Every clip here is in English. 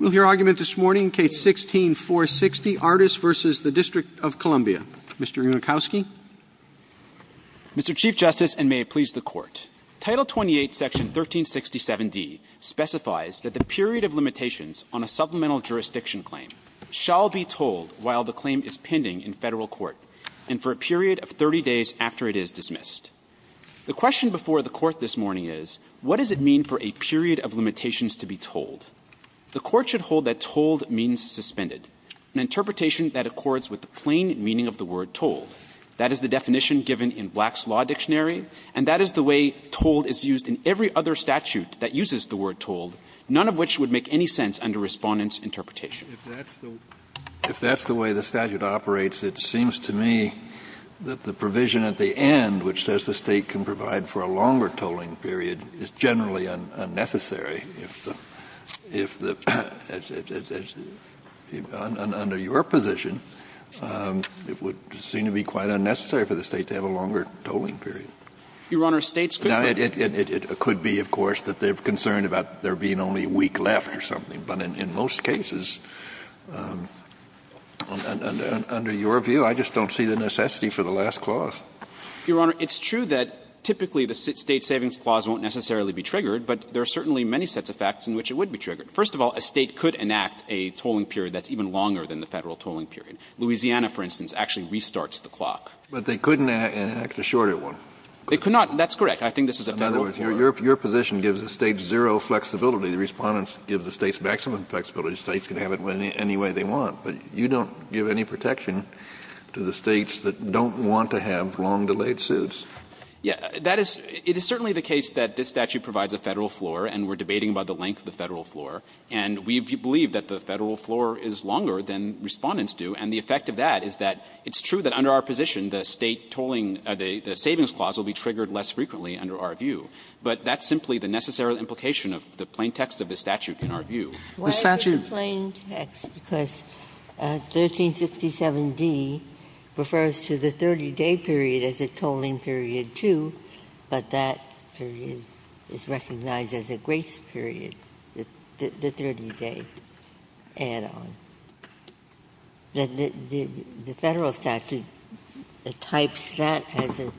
We'll hear argument this morning, Case 16-460, Artis v. District of Columbia. Mr. Yunikowski. Mr. Chief Justice, and may it please the Court, Title 28, Section 1367d specifies that the period of limitations on a supplemental jurisdiction claim shall be told while the claim is pending in Federal court and for a period of 30 days after it is dismissed. The question before the Court this morning is, what does it mean for a period of limitations to be told? The Court should hold that told means suspended, an interpretation that accords with the plain meaning of the word told. That is the definition given in Black's Law Dictionary, and that is the way told is used in every other statute that uses the word told, none of which would make any sense under Respondent's interpretation. Kennedy If that's the way the statute operates, it seems to me that the provision at the end, which says the State can provide for a longer tolling period, is generally unnecessary if the, if the, under your position, it would seem to be quite unnecessary for the State to have a longer tolling period. Now, it could be, of course, that they're concerned about there being only a week left or something, but in most cases, under your view, I just don't see the necessity for the last clause. Mr. Yunikowski. Your Honor, it's true that typically the State savings clause won't necessarily be triggered, but there are certainly many sets of facts in which it would be triggered. First of all, a State could enact a tolling period that's even longer than the Federal tolling period. Louisiana, for instance, actually restarts the clock. Kennedy But they couldn't enact a shorter one. Mr. Yunikowski. They could not. That's correct. I think this is a Federal clause. Kennedy In other words, your position gives the State zero flexibility. The Respondents give the State maximum flexibility. The States can have it any way they want. But you don't give any protection to the States that don't want to have long-delayed suits. Mr. Yunikowski. Yeah. That is – it is certainly the case that this statute provides a Federal floor, and we're debating about the length of the Federal floor. And we believe that the Federal floor is longer than Respondents do, and the effect of that is that it's true that under our position, the State tolling – the savings clause will be triggered less frequently under our view. But that's simply the necessary implication of the plain text of the statute in our view. The statute – Ginsburg 1367d refers to the 30-day period as a tolling period, too, but that period is recognized as a grace period, the 30-day add-on. The Federal statute types that as a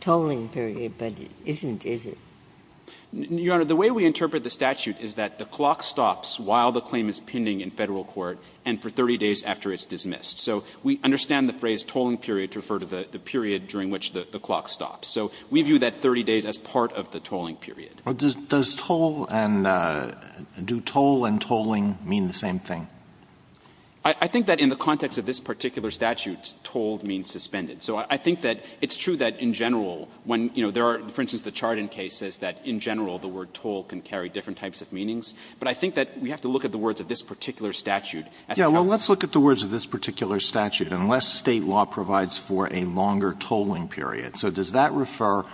tolling period, but it isn't, is it? Your Honor, the way we interpret the statute is that the clock stops while the claim is pending in Federal court and for 30 days after it's dismissed. So we understand the phrase tolling period to refer to the period during which the clock stops. So we view that 30 days as part of the tolling period. But does toll and – do toll and tolling mean the same thing? I think that in the context of this particular statute, toll means suspended. So I think that it's true that in general, when, you know, there are – for instance, the Chardon case says that in general the word toll can carry different types of meanings. But I think that we have to look at the words of this particular statute as to how Alitoson Yeah. Well, let's look at the words of this particular statute. Unless State law provides for a longer tolling period. So does that refer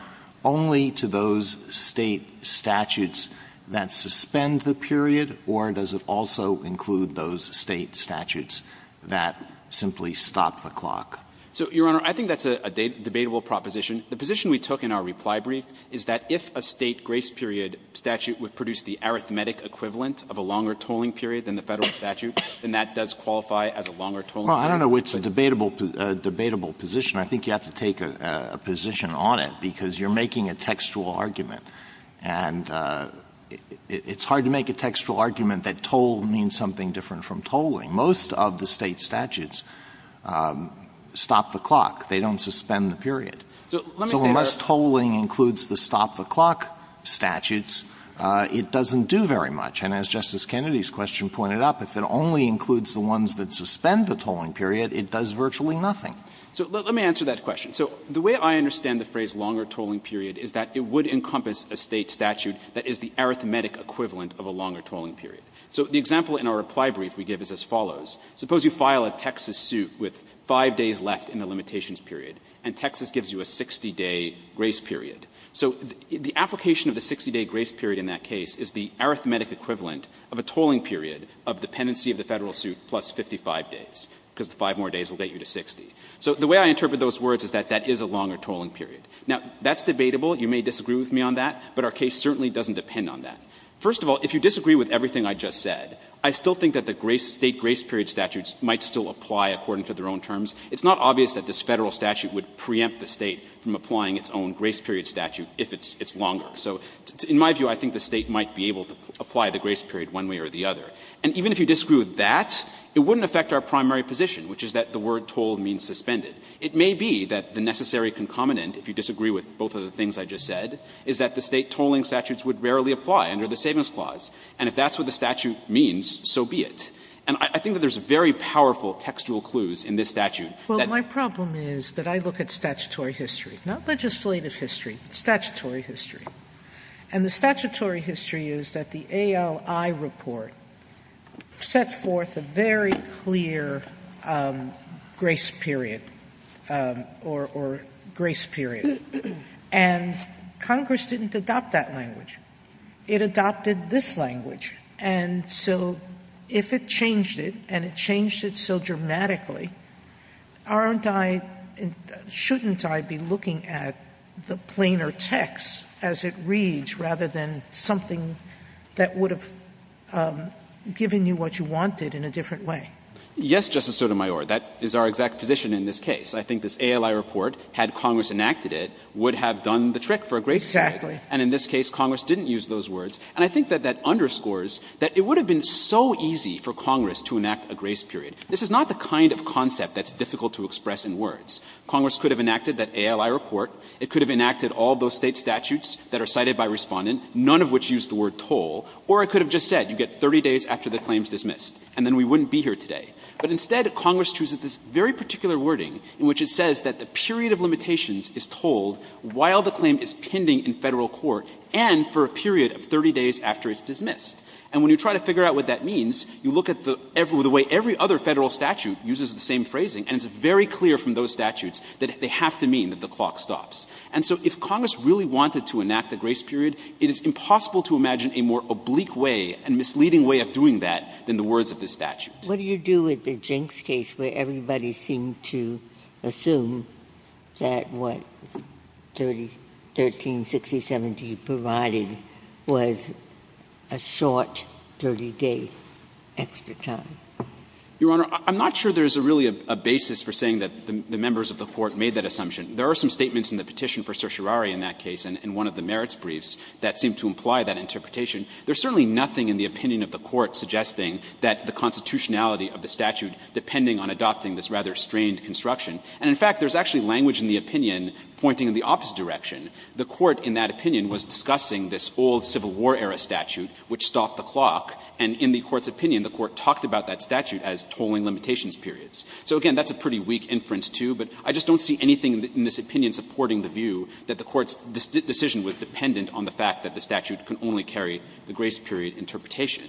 only to those State statutes that suspend the period, or does it also include those State statutes that simply stop the clock? So, Your Honor, I think that's a debatable proposition. The position we took in our reply brief is that if a State grace period statute would produce the arithmetic equivalent of a longer tolling period than the Federal statute, then that does qualify as a longer tolling period. Well, I don't know if it's a debatable position. I think you have to take a position on it, because you're making a textual argument. And it's hard to make a textual argument that toll means something different from tolling. Most of the State statutes stop the clock. They don't suspend the period. So unless tolling includes the stop the clock statutes, the Federal statute doesn't do very much. And as Justice Kennedy's question pointed out, if it only includes the ones that suspend the tolling period, it does virtually nothing. So let me answer that question. So the way I understand the phrase longer tolling period is that it would encompass a State statute that is the arithmetic equivalent of a longer tolling period. So the example in our reply brief we give is as follows. Suppose you file a Texas suit with 5 days left in the limitations period, and Texas gives you a 60-day grace period. So the application of the 60-day grace period in that case is the arithmetic equivalent of a tolling period of dependency of the Federal suit plus 55 days, because the 5 more days will get you to 60. So the way I interpret those words is that that is a longer tolling period. Now, that's debatable. You may disagree with me on that, but our case certainly doesn't depend on that. First of all, if you disagree with everything I just said, I still think that the State grace period statutes might still apply according to their own terms. It's not obvious that this Federal statute would preempt the State from applying its own grace period statute if it's longer. So in my view, I think the State might be able to apply the grace period one way or the other. And even if you disagree with that, it wouldn't affect our primary position, which is that the word toll means suspended. It may be that the necessary concomitant, if you disagree with both of the things I just said, is that the State tolling statutes would rarely apply under the Savings Clause. And if that's what the statute means, so be it. And I think that there's very powerful textual clues in this statute that My problem is that I look at statutory history, not legislative history, statutory history. And the statutory history is that the ALI report set forth a very clear grace period or grace period, and Congress didn't adopt that language. It adopted this language. And so if it changed it, and it changed it so dramatically, aren't I — shouldn't I be looking at the plainer text as it reads rather than something that would have given you what you wanted in a different way? Yes, Justice Sotomayor, that is our exact position in this case. I think this ALI report, had Congress enacted it, would have done the trick for a grace period. Exactly. And in this case, Congress didn't use those words. And I think that that underscores that it would have been so easy for Congress to enact a grace period. This is not the kind of concept that's difficult to express in words. Congress could have enacted that ALI report. It could have enacted all those State statutes that are cited by Respondent, none of which use the word toll. Or it could have just said, you get 30 days after the claim is dismissed, and then we wouldn't be here today. But instead, Congress chooses this very particular wording in which it says that the period of limitations is told while the claim is pending in Federal court and for a period of 30 days after it's dismissed. And when you try to figure out what that means, you look at the way every other Federal statute uses the same phrasing, and it's very clear from those statutes that they have to mean that the clock stops. And so if Congress really wanted to enact a grace period, it is impossible to imagine a more oblique way, a misleading way of doing that than the words of this statute. What do you do with the Jenks case where everybody seemed to assume that what 1360.17 provided was a short 30-day extra time? Your Honor, I'm not sure there's really a basis for saying that the members of the Court made that assumption. There are some statements in the petition for certiorari in that case and one of the merits briefs that seem to imply that interpretation. There's certainly nothing in the opinion of the Court suggesting that the constitutionality of the statute depending on adopting this rather strained construction. And in fact, there's actually language in the opinion pointing in the opposite direction. The Court in that opinion was discussing this old Civil War-era statute which stopped the clock, and in the Court's opinion, the Court talked about that statute as tolling limitations periods. So again, that's a pretty weak inference, too, but I just don't see anything in this opinion supporting the view that the Court's decision was dependent on the fact that the statute could only carry the grace period interpretation.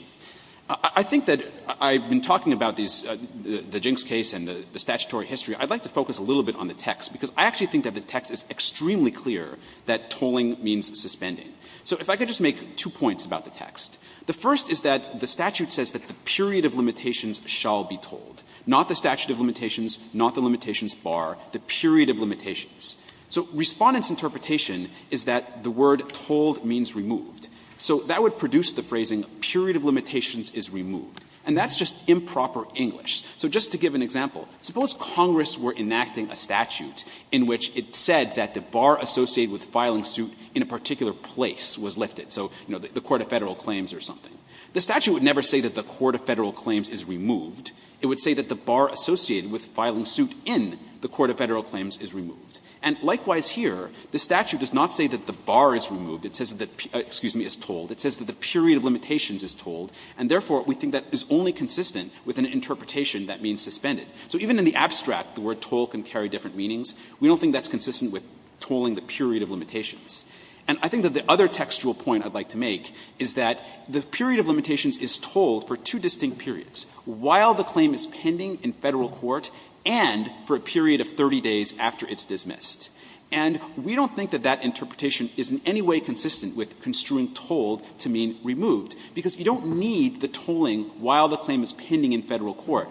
I think that I've been talking about these the Jenks case and the statutory history. I'd like to focus a little bit on the text, because I actually think that the text is extremely clear that tolling means suspending. So if I could just make two points about the text. The first is that the statute says that the period of limitations shall be tolled, not the statute of limitations, not the limitations bar, the period of limitations. So Respondent's interpretation is that the word tolled means removed. So that would produce the phrasing, period of limitations is removed, and that's just improper English. So just to give an example, suppose Congress were enacting a statute in which it said that the bar associated with filing suit in a particular place was lifted, so, you know, the Court of Federal Claims or something. The statute would never say that the Court of Federal Claims is removed. It would say that the bar associated with filing suit in the Court of Federal Claims is removed. And likewise here, the statute does not say that the bar is removed. It says that the period of limitations is tolled, and therefore, we think that is only consistent with an interpretation that means suspended. So even in the abstract, the word tolled can carry different meanings. We don't think that's consistent with tolling the period of limitations. And I think that the other textual point I'd like to make is that the period of limitations is tolled for two distinct periods, while the claim is pending in Federal court and for a period of 30 days after it's dismissed. And we don't think that that interpretation is in any way consistent with construing tolled to mean removed, because you don't need the tolling while the claim is pending in Federal court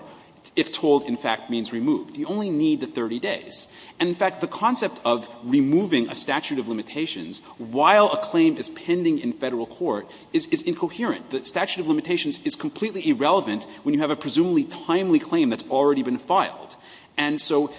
if tolled, in fact, means removed. You only need the 30 days. And, in fact, the concept of removing a statute of limitations while a claim is pending in Federal court is incoherent. The statute of limitations is completely irrelevant when you have a presumably timely claim that's already been filed. And so,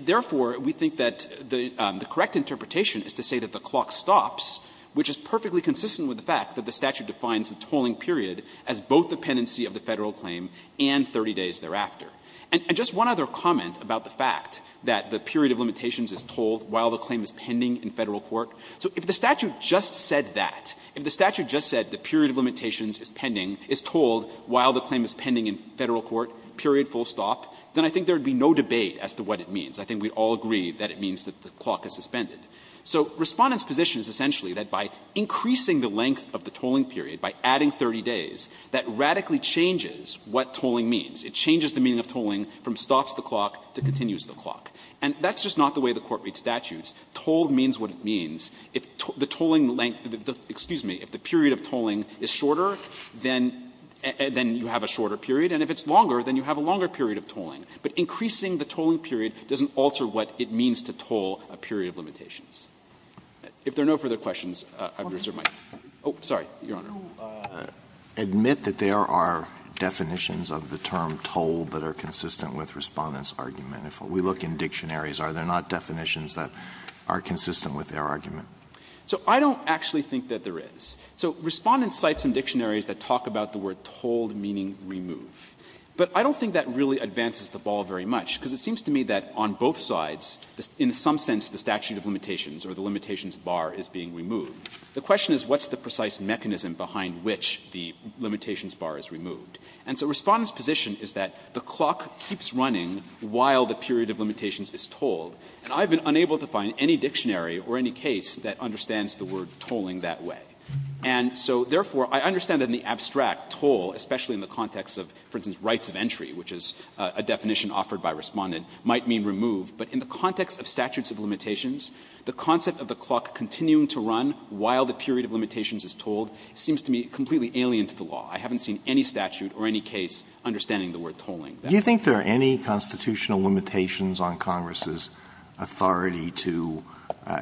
therefore, we think that the correct interpretation is to say that the clock stops, which is perfectly consistent with the fact that the statute defines the tolling period as both the pendency of the Federal claim and 30 days thereafter. And just one other comment about the fact that the period of limitations is tolled while the claim is pending in Federal court. So if the statute just said that, if the statute just said the period of limitations is pending, is tolled while the claim is pending in Federal court, period, full stop, then I think there would be no debate as to what it means. I think we'd all agree that it means that the clock is suspended. So Respondent's position is essentially that by increasing the length of the tolling period, by adding 30 days, that radically changes what tolling means. It changes the meaning of tolling from stops the clock to continues the clock. And that's just not the way the Court reads statutes. Tolled means what it means. If the tolling length of the period of tolling is shorter, then you have a shorter period, and if it's longer, then you have a longer period of tolling. But increasing the tolling period doesn't alter what it means to toll a period of limitations. If there are no further questions, I would reserve my time. Oh, sorry, Your Honor. Alito, do you admit that there are definitions of the term tolled that are consistent with Respondent's argument? If we look in dictionaries, are there not definitions that are consistent with their argument? So I don't actually think that there is. So Respondent cites some dictionaries that talk about the word tolled meaning remove. But I don't think that really advances the ball very much, because it seems to me that on both sides, in some sense, the statute of limitations or the limitations bar is being removed. The question is what's the precise mechanism behind which the limitations bar is removed. And so Respondent's position is that the clock keeps running while the period of limitations is tolled, and I've been unable to find any dictionary or any case that understands the word tolling that way. And so, therefore, I understand that in the abstract, toll, especially in the context of, for instance, rights of entry, which is a definition offered by Respondent, might mean remove. But in the context of statutes of limitations, the concept of the clock continuing to run while the period of limitations is tolled seems to me completely alien to the law. I haven't seen any statute or any case understanding the word tolling. Alitoson Do you think there are any constitutional limitations on Congress's authority to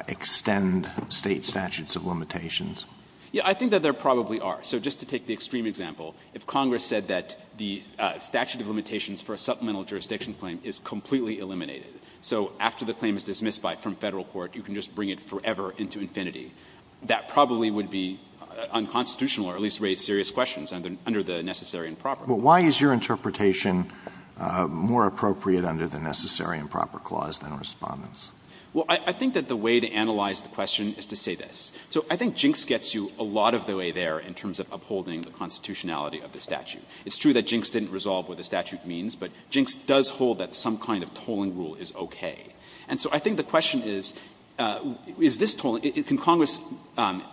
extend State statutes of limitations? Yeah, I think that there probably are. So just to take the extreme example, if Congress said that the statute of limitations for a supplemental jurisdiction claim is completely eliminated, so after the claim is dismissed from Federal court, you can just bring it forever into infinity, that probably would be unconstitutional or at least raise serious questions under the necessary and proper clause. But why is your interpretation more appropriate under the necessary and proper clause than Respondent's? Well, I think that the way to analyze the question is to say this. So I think Jinks gets you a lot of the way there in terms of upholding the constitutionality of the statute. It's true that Jinks didn't resolve what the statute means, but Jinks does hold that some kind of tolling rule is okay. And so I think the question is, is this tolling, can Congress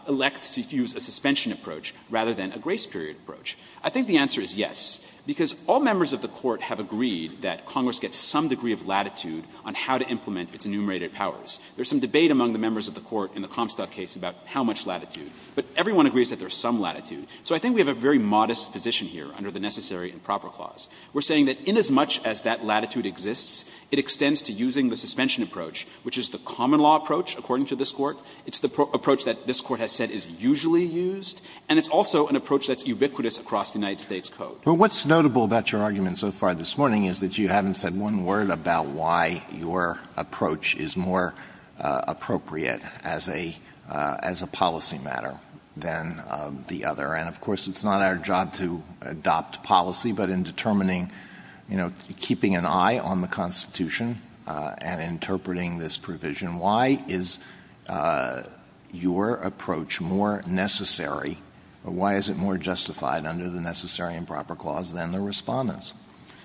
elect to use a suspension approach rather than a grace period approach? I think the answer is yes, because all members of the Court have agreed that Congress gets some degree of latitude on how to implement its enumerated powers. There's some debate among the members of the Court in the Comstock case about how much latitude, but everyone agrees that there's some latitude. So I think we have a very modest position here under the necessary and proper clause. We're saying that inasmuch as that latitude exists, it extends to using the suspension approach, which is the common law approach, according to this Court. It's the approach that this Court has said is usually used, and it's also an approach that's ubiquitous across the United States Code. But what's notable about your argument so far this morning is that you haven't said one word about why your approach is more appropriate as a policy matter than the other. And, of course, it's not our job to adopt policy, but in determining, you know, keeping an eye on the Constitution and interpreting this provision, why is your approach more necessary, or why is it more justified under the necessary and proper clause than the Respondent's?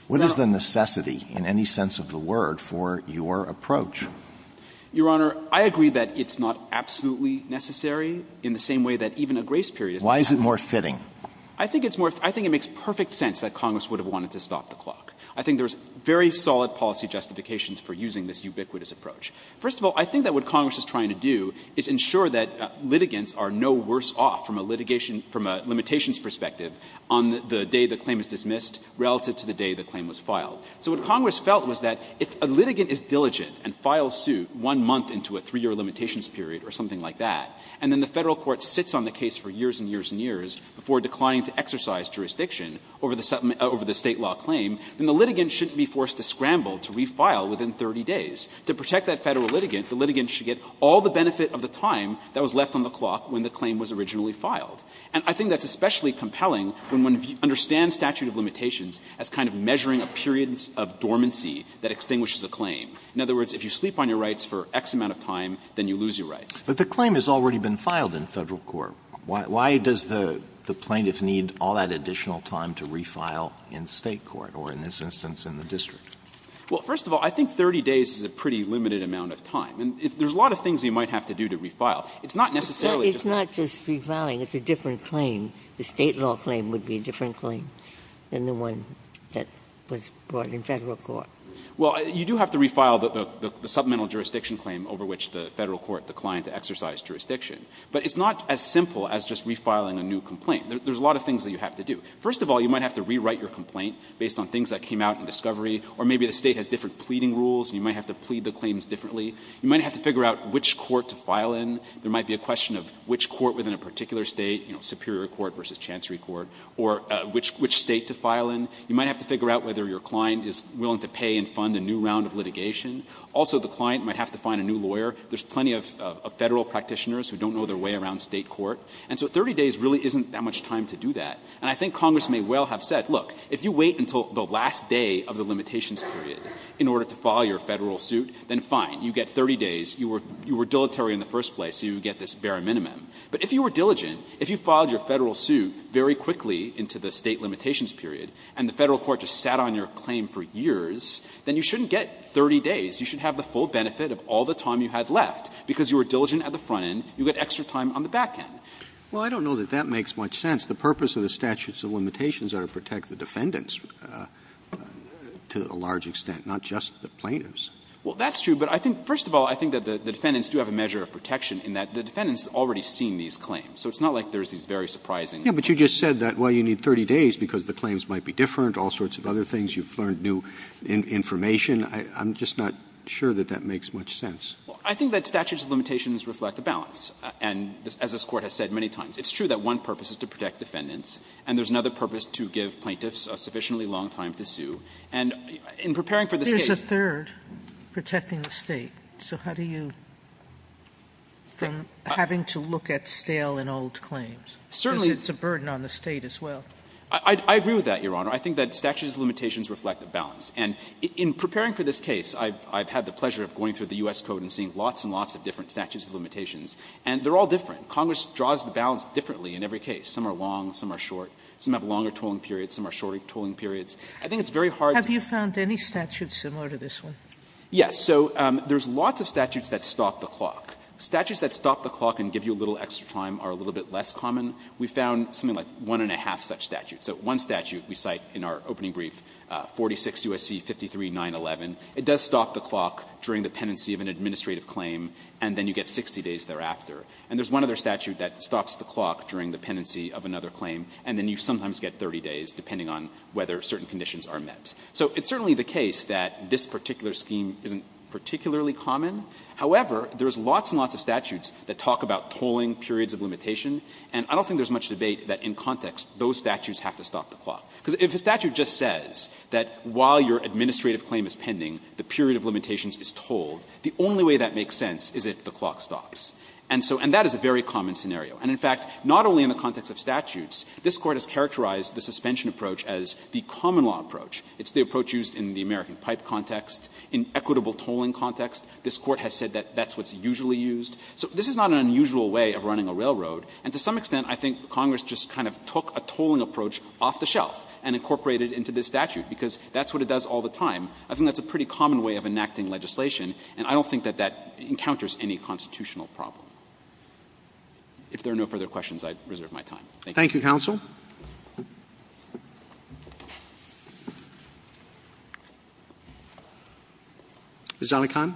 What is the necessity, in any sense of the word, for your approach? Your Honor, I agree that it's not absolutely necessary in the same way that even a grace period is necessary. Why is it more fitting? I think it's more — I think it makes perfect sense that Congress would have wanted to stop the clock. I think there's very solid policy justifications for using this ubiquitous approach. First of all, I think that what Congress is trying to do is ensure that litigants are no worse off from a litigation — from a limitations perspective on the day the claim is dismissed relative to the day the claim was filed. So what Congress felt was that if a litigant is diligent and files suit one month into a three-year limitations period or something like that, and then the Federal Court sits on the case for years and years and years before declining to exercise jurisdiction over the State law claim, then the litigant shouldn't be forced to scramble to refile within 30 days. To protect that Federal litigant, the litigant should get all the benefit of the time that was left on the clock when the claim was originally filed. And I think that's especially compelling when one understands statute of limitations as kind of measuring a period of dormancy that extinguishes a claim. In other words, if you sleep on your rights for X amount of time, then you lose your rights. Alitoson But the claim has already been filed in Federal court. Why does the plaintiff need all that additional time to refile in State court or, in this instance, in the district? Fisher Well, first of all, I think 30 days is a pretty limited amount of time. And there's a lot of things you might have to do to refile. It's not necessarily just that. Ginsburg It's not just refiling. It's a different claim. The State law claim would be a different claim than the one that was brought in Federal court. Fisher Well, you do have to refile the submental jurisdiction claim over which the client exercised jurisdiction. But it's not as simple as just refiling a new complaint. There's a lot of things that you have to do. First of all, you might have to rewrite your complaint based on things that came out in discovery. Or maybe the State has different pleading rules, and you might have to plead the claims differently. You might have to figure out which court to file in. There might be a question of which court within a particular State, you know, Superior Court versus Chancery Court, or which State to file in. You might have to figure out whether your client is willing to pay and fund a new round of litigation. Also, the client might have to find a new lawyer. There's plenty of Federal practitioners who don't know their way around State court. And so 30 days really isn't that much time to do that. And I think Congress may well have said, look, if you wait until the last day of the limitations period in order to file your Federal suit, then fine, you get 30 days. You were dilatory in the first place, so you would get this bare minimum. But if you were diligent, if you filed your Federal suit very quickly into the State limitations period, and the Federal court just sat on your claim for years, then you shouldn't get 30 days. You should have the full benefit of all the time you had left, because you were diligent at the front end, you get extra time on the back end. Roberts. Well, I don't know that that makes much sense. The purpose of the statutes of limitations are to protect the defendants to a large extent, not just the plaintiffs. Well, that's true. But I think, first of all, I think that the defendants do have a measure of protection in that the defendants have already seen these claims. So it's not like there's these very surprising claims. Yeah, but you just said that, well, you need 30 days because the claims might be different, all sorts of other things. You've learned new information. I'm just not sure that that makes much sense. Well, I think that statutes of limitations reflect a balance. And as this Court has said many times, it's true that one purpose is to protect defendants, and there's another purpose to give plaintiffs a sufficiently long time to sue. And in preparing for this case they're going to have to wait a long time to sue. Sotomayor, there's a third protecting the State. So how do you, from having to look at stale and old claims, because it's a burden on the State as well. Certainly, I agree with that, Your Honor. I think that statutes of limitations reflect a balance. And in preparing for this case, I've had the pleasure of going through the U.S. Code and seeing lots and lots of different statutes of limitations, and they're all different. Congress draws the balance differently in every case. Some are long, some are short. Some have longer tolling periods, some are shorter tolling periods. I think it's very hard to do. Have you found any statutes similar to this one? Yes. So there's lots of statutes that stop the clock. Statutes that stop the clock and give you a little extra time are a little bit less common. We found something like one and a half such statutes. So one statute we cite in our opening brief, 46 U.S.C. 53-911. It does stop the clock during the pendency of an administrative claim, and then you get 60 days thereafter. And there's one other statute that stops the clock during the pendency of another claim, and then you sometimes get 30 days, depending on whether certain conditions are met. So it's certainly the case that this particular scheme isn't particularly common. However, there's lots and lots of statutes that talk about tolling periods of limitation, and I don't think there's much debate that in context, those statutes have to stop the clock. Because if a statute just says that while your administrative claim is pending, the period of limitations is tolled, the only way that makes sense is if the clock stops. And so that is a very common scenario. And in fact, not only in the context of statutes, this Court has characterized the suspension approach as the common law approach. It's the approach used in the American pipe context, in equitable tolling context. This Court has said that that's what's usually used. So this is not an unusual way of running a railroad, and to some extent, I think Congress just kind of took a tolling approach off the shelf and incorporated into this statute, because that's what it does all the time. I think that's a pretty common way of enacting legislation, and I don't think that that encounters any constitutional problem. If there are no further questions, I'd reserve my time. Thank you. Roberts, Thank you, counsel. Ms. Zellekeim. Zellekeim,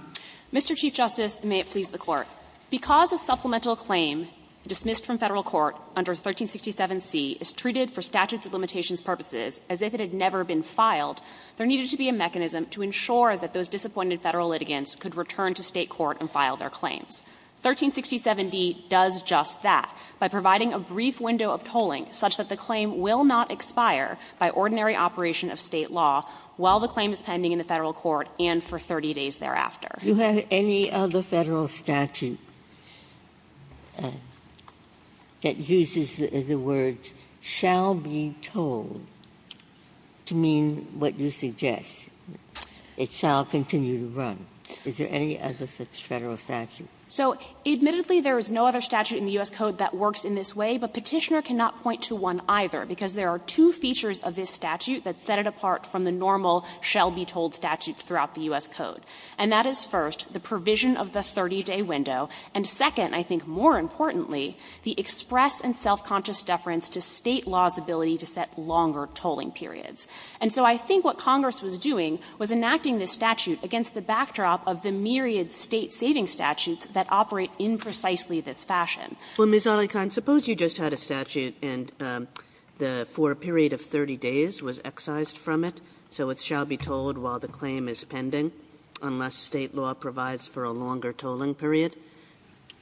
Mr. Chief Justice, and may it please the Court. Because a supplemental claim dismissed from Federal court under 1367C is treated for statutes of limitations purposes as if it had never been filed, there needed to be a mechanism to ensure that those disappointed Federal litigants could return to State court and file their claims. 1367D does just that by providing a brief window of tolling such that the claim will not expire by ordinary operation of State law while the claim is pending in the Federal court and for 30 days thereafter. Ginsburg, do you have any other Federal statute that uses the words shall be tolled to mean what you suggest, it shall continue to run? Is there any other such Federal statute? So, admittedly, there is no other statute in the U.S. Code that works in this way, but Petitioner cannot point to one either, because there are two features of this statute that set it apart from the normal shall-be-told statutes throughout the U.S. Code. And that is, first, the provision of the 30-day window, and, second, I think more importantly, the express and self-conscious deference to State law's ability to set longer tolling periods. And so I think what Congress was doing was enacting this statute against the backdrop of the myriad State savings statutes that operate in precisely this fashion. Well, Ms. Alencon, suppose you just had a statute and the for a period of 30 days was excised from it, so it shall be tolled while the claim is pending. Unless State law provides for a longer tolling period,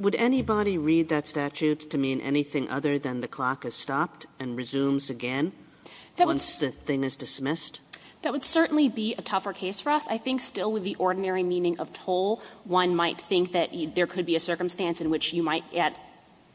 would anybody read that statute to mean anything other than the clock has stopped and resumes again once the thing is dismissed? That would certainly be a tougher case for us. I think still with the ordinary meaning of toll, one might think that there could be a circumstance in which you might get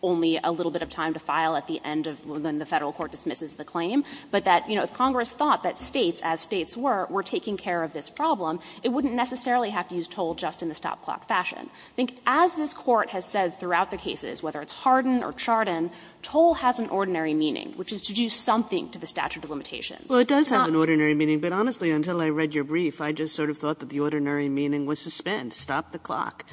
only a little bit of time to file at the end of when the Federal court dismisses the claim, but that, you know, if Congress thought that States, as States were, were taking care of this problem, it wouldn't necessarily have to use toll just in the stop clock fashion. I think as this Court has said throughout the cases, whether it's Hardin or Chardon, toll has an ordinary meaning, which is to do something to the statute of limitations. It's not an ordinary meaning, but honestly, until I read your brief, I just sort of thought that the ordinary meaning was suspend, stop the clock.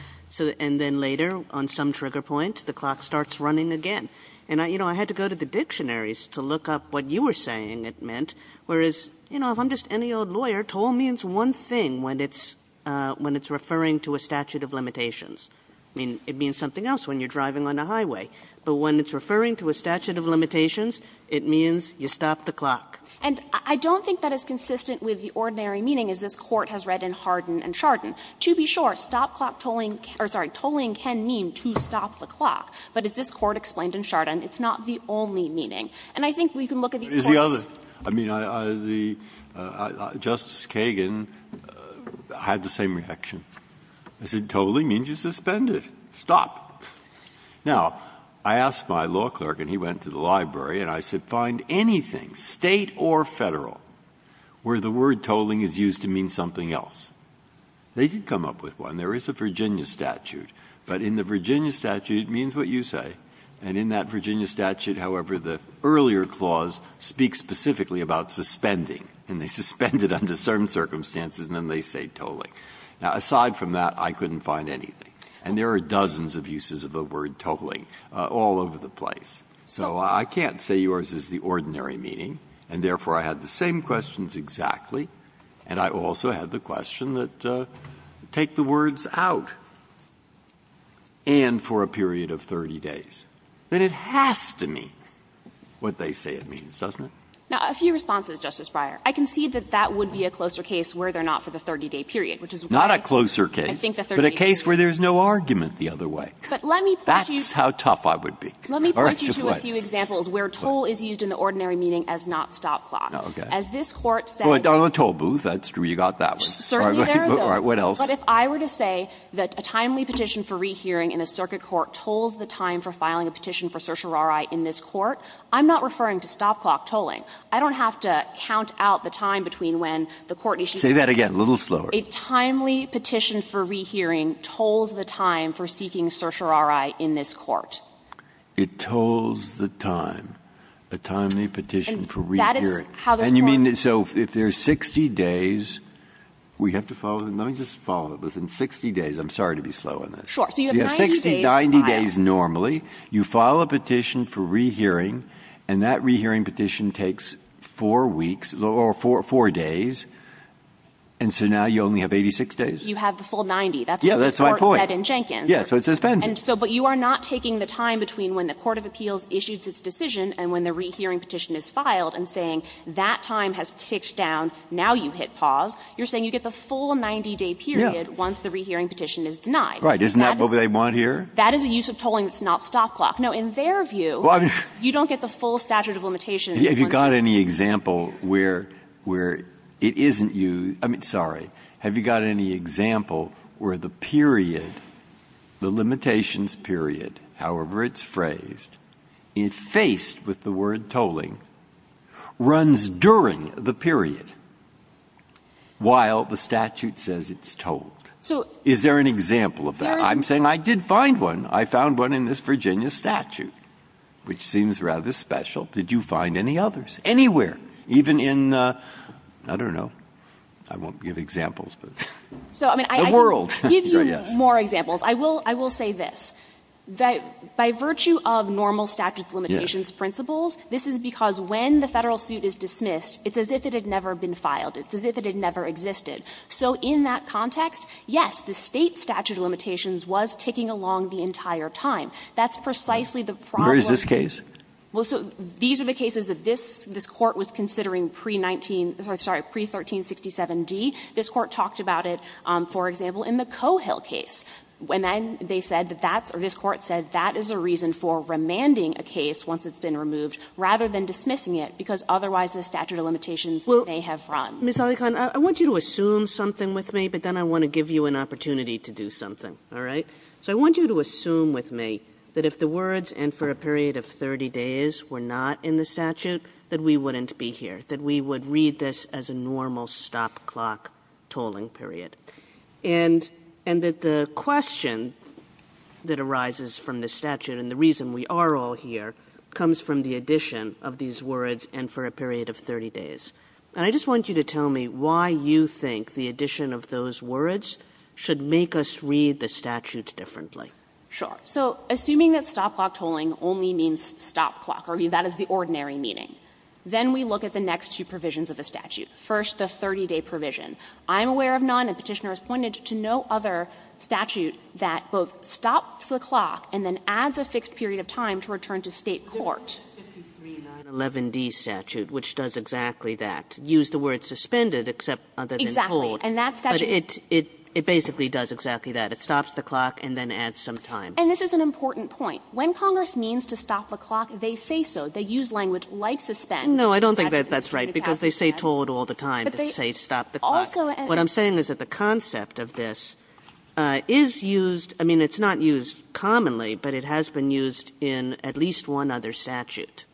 And then later, on some trigger point, the clock starts running again. And, you know, I had to go to the dictionaries to look up what you were saying it meant, whereas, you know, if I'm just any old lawyer, toll means one thing when it's referring to a statute of limitations. I mean, it means something else when you're driving on the highway. But when it's referring to a statute of limitations, it means you stop the clock. And I don't think that is consistent with the ordinary meaning as this Court has read in Hardin and Chardon. To be sure, stop clock tolling or, sorry, tolling can mean to stop the clock, but as this Court explained in Chardon, it's not the only meaning. And I think we can look at these points. Breyer. I mean, Justice Kagan had the same reaction. I said tolling means you suspend it. Stop. Now, I asked my law clerk, and he went to the library, and I said find anything, State or Federal, where the word tolling is used to mean something else. They did come up with one. There is a Virginia statute. But in the Virginia statute, it means what you say. And in that Virginia statute, however, the earlier clause speaks specifically about suspending. And they suspend it under certain circumstances, and then they say tolling. Now, aside from that, I couldn't find anything. And there are dozens of uses of the word tolling all over the place. So I can't say yours is the ordinary meaning, and therefore I had the same questions exactly, and I also had the question that take the words out, and for a period of 30 days. But it has to mean what they say it means, doesn't it? Now, a few responses, Justice Breyer. I concede that that would be a closer case where they're not for the 30-day period, which is why I think the 30-day period. Breyer. Not a closer case, but a case where there's no argument the other way. But let me point you to a few examples where toll is used in the ordinary meaning as not stop clock. As this Court said toll booth, that's true, you got that one. Certainly there are those. All right, what else? But if I were to say that a timely petition for rehearing in a circuit court tolls the time for filing a petition for certiorari in this court, I'm not referring to stop clock tolling. I don't have to count out the time between when the court needs to do it. Say that again, a little slower. A timely petition for rehearing tolls the time for seeking certiorari in this court. It tolls the time, a timely petition for rehearing. And that is how this Court. And you mean, so if there's 60 days, we have to follow them. Let me just follow it. Within 60 days, I'm sorry to be slow on this. Sure. So you have 90 days to file. You have 60, 90 days normally. You file a petition for rehearing, and that rehearing petition takes 4 weeks or 4 days. And so now you only have 86 days. You have the full 90. That's what the Court said in Jenkins. Yes, that's my point. Yes, so it suspends it. And so, but you are not taking the time between when the court of appeals issues its decision and when the rehearing petition is filed and saying that time has ticked down, now you hit pause. You're saying you get the full 90-day period once the rehearing petition is denied. Right. Isn't that what they want here? That is a use of tolling that's not stop clock. Now, in their view, you don't get the full statute of limitations. Have you got any example where it isn't used — I mean, sorry. Have you got any example where the period, the limitations period, however it's phrased, faced with the word tolling, runs during the period while the statute says it's tolled? Is there an example of that? I'm saying I did find one. I found one in this Virginia statute, which seems rather special. Did you find any others? Anywhere, even in, I don't know, I won't give examples, but the world. So, I mean, I can give you more examples. I will say this. By virtue of normal statute of limitations principles, this is because when the Federal suit is dismissed, it's as if it had never been filed. It's as if it had never existed. So in that context, yes, the State statute of limitations was ticking along the entire time. That's precisely the problem. Where is this case? Well, so these are the cases that this Court was considering pre-19 — sorry, pre-1367d. This Court talked about it, for example, in the Coehill case. And then they said that that's — or this Court said that is a reason for remanding a case once it's been removed rather than dismissing it, because otherwise the statute of limitations may have run. Ms. Alikhan, I want you to assume something with me, but then I want to give you an opportunity to do something, all right? So I want you to assume with me that if the words, and for a period of 30 days, were not in the statute, that we wouldn't be here, that we would read this as a normal stop-clock tolling period, and that the question that arises from the statute, and the reason we are all here, comes from the addition of these words, and for a period of 30 days. And I just want you to tell me why you think the addition of those words should make us read the statute differently. Alikhan. Sure. So assuming that stop-clock tolling only means stop-clock, or that is the ordinary meaning, then we look at the next two provisions of the statute, first the 30-day provision. I'm aware of none, and Petitioner has pointed to no other statute that both stops the clock and then adds a fixed period of time to return to State court. Kagan. The 53911d statute, which does exactly that, used the word suspended, except other than told. Exactly. And that statute. But it basically does exactly that. It stops the clock and then adds some time. And this is an important point. When Congress means to stop the clock, they say so. They use language like suspend. No, I don't think that's right, because they say told all the time to say stop the clock. Also, and I'm saying is that the concept of this is used, I mean, it's not used commonly, but it has been used in at least one other statute.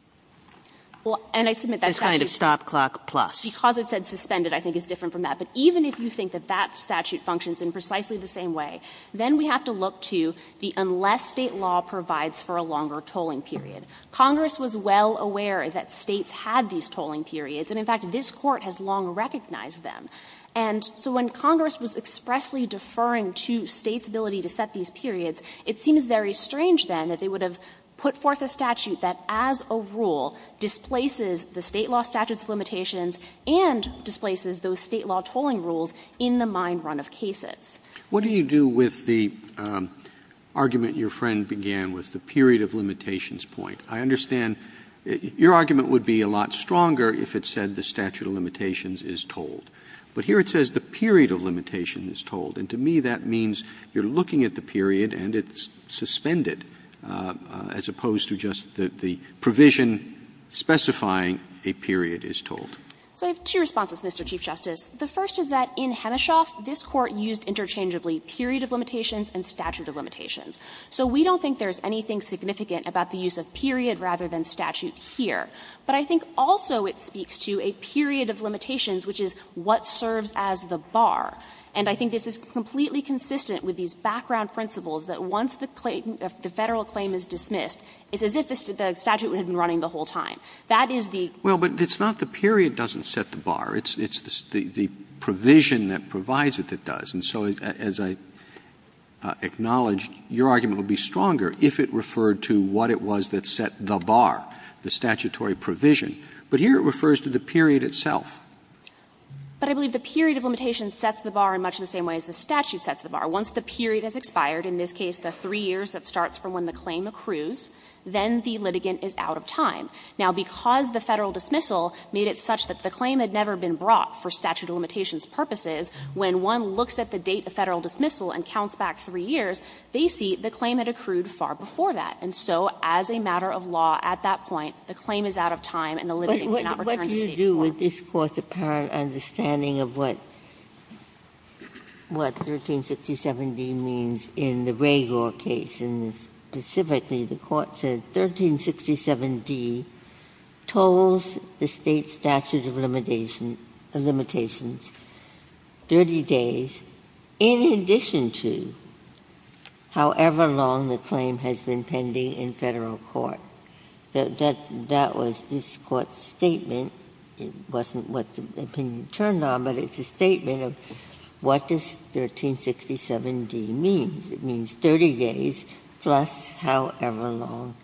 Well, and I submit that statute is kind of stop-clock plus. Because it said suspended, I think, is different from that. But even if you think that that statute functions in precisely the same way, then we have to look to the unless State law provides for a longer tolling period. Congress was well aware that States had these tolling periods, and in fact, this Court has long recognized them. And so when Congress was expressly deferring to States' ability to set these periods, it seems very strange, then, that they would have put forth a statute that, as a rule, displaces the State law statutes of limitations and displaces those State law tolling rules in the mind-run of cases. Roberts' What do you do with the argument your friend began with, the period of limitations point? I understand your argument would be a lot stronger if it said the statute of limitations But here it says the period of limitation is told. And to me, that means you're looking at the period and it's suspended, as opposed to just the provision specifying a period is told. So I have two responses, Mr. Chief Justice. The first is that in Hemeshoff, this Court used interchangeably period of limitations and statute of limitations. So we don't think there's anything significant about the use of period rather than statute here. But I think also it speaks to a period of limitations, which is what serves as the bar. And I think this is completely consistent with these background principles that once the claim, the Federal claim is dismissed, it's as if the statute had been running the whole time. That is the Roberts' Well, but it's not the period doesn't set the bar. It's the provision that provides it that does. And so, as I acknowledged, your argument would be stronger if it referred to what it was that set the bar, the statutory provision. But here it refers to the period itself. But I believe the period of limitations sets the bar in much the same way as the statute sets the bar. Once the period has expired, in this case the three years that starts from when the claim accrues, then the litigant is out of time. Now, because the Federal dismissal made it such that the claim had never been brought for statute of limitations purposes, when one looks at the date of Federal dismissal and counts back three years, they see the claim had accrued far before that. And so as a matter of law at that point, the claim is out of time and the litigant cannot return to State court. Ginsburg's question is, what do you do with this Court's apparent understanding of what 1367d means in the Ragour case? And specifically, the Court said 1367d tolls the State statute of limitations 30 days in addition to however long the claim has been pending in Federal court. That was this Court's statement. It wasn't what the opinion turned on, but it's a statement of what does 1367d mean. It means 30 days plus however long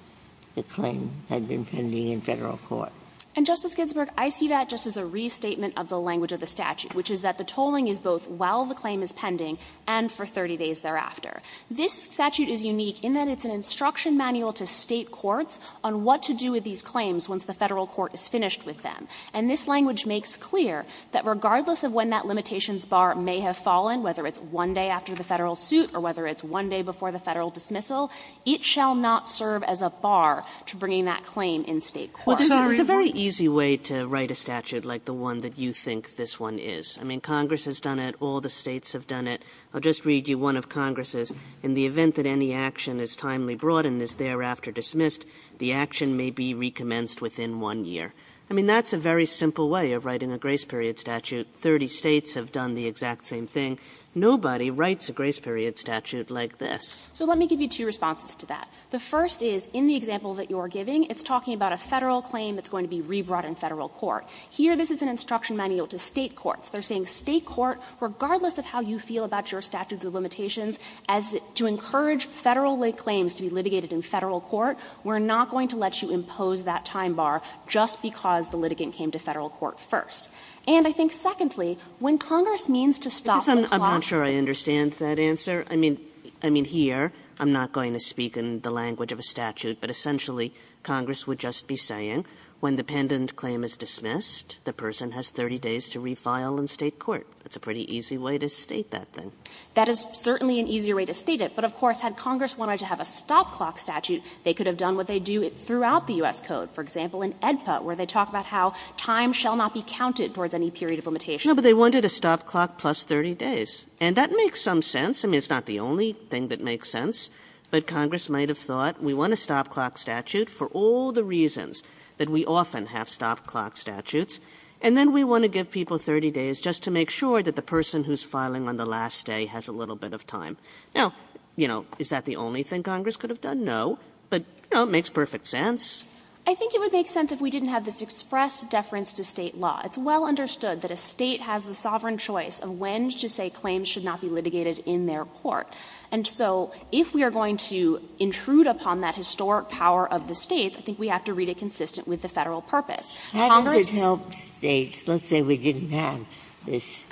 the claim had been pending in Federal court. And, Justice Ginsburg, I see that just as a restatement of the language of the statute, which is that the tolling is both while the claim is pending and for 30 days thereafter. This statute is unique in that it's an instruction manual to State courts on what to do with these claims once the Federal court is finished with them, and this language makes clear that regardless of when that limitations bar may have fallen, whether it's 1 day after the Federal suit or whether it's 1 day before the Federal dismissal, it shall not serve as a bar to bringing that claim in State court. Kagan. It's a very easy way to write a statute like the one that you think this one is. I mean, Congress has done it, all the States have done it. I'll just read you one of Congress's. In the event that any action is timely brought and is thereafter dismissed, the action may be recommenced within 1 year. I mean, that's a very simple way of writing a grace period statute. 30 States have done the exact same thing. Nobody writes a grace period statute like this. So let me give you two responses to that. The first is, in the example that you are giving, it's talking about a Federal claim that's going to be rebrought in Federal court. Here, this is an instruction manual to State courts. They are saying, State court, regardless of how you feel about your statutes of limitations, as to encourage Federal claims to be litigated in Federal court, we are not going to let you impose that time bar just because the litigant came to Federal court first. And I think, secondly, when Congress means to stop the clock. Kagan, I'm not sure I understand that answer. I mean, here, I'm not going to speak in the language of a statute, but essentially Congress would just be saying when the pendent claim is dismissed, the person has 30 days to refile in State court. That's a pretty easy way to state that thing. That is certainly an easier way to state it. But, of course, had Congress wanted to have a stop clock statute, they could have done what they do throughout the U.S. Code. For example, in AEDPA, where they talk about how time shall not be counted towards any period of limitation. No, but they wanted a stop clock plus 30 days. And that makes some sense. I mean, it's not the only thing that makes sense. But Congress might have thought, we want a stop clock statute for all the reasons that we often have stop clock statutes. And then we want to give people 30 days just to make sure that the person who's filing on the last day has a little bit of time. Now, you know, is that the only thing Congress could have done? No. But, you know, it makes perfect sense. I think it would make sense if we didn't have this express deference to State law. It's well understood that a State has the sovereign choice of when to say claims should not be litigated in their court. And so if we are going to intrude upon that historic power of the States, I think we have to read it consistent with the Federal purpose. How does it help States? Let's say we didn't have this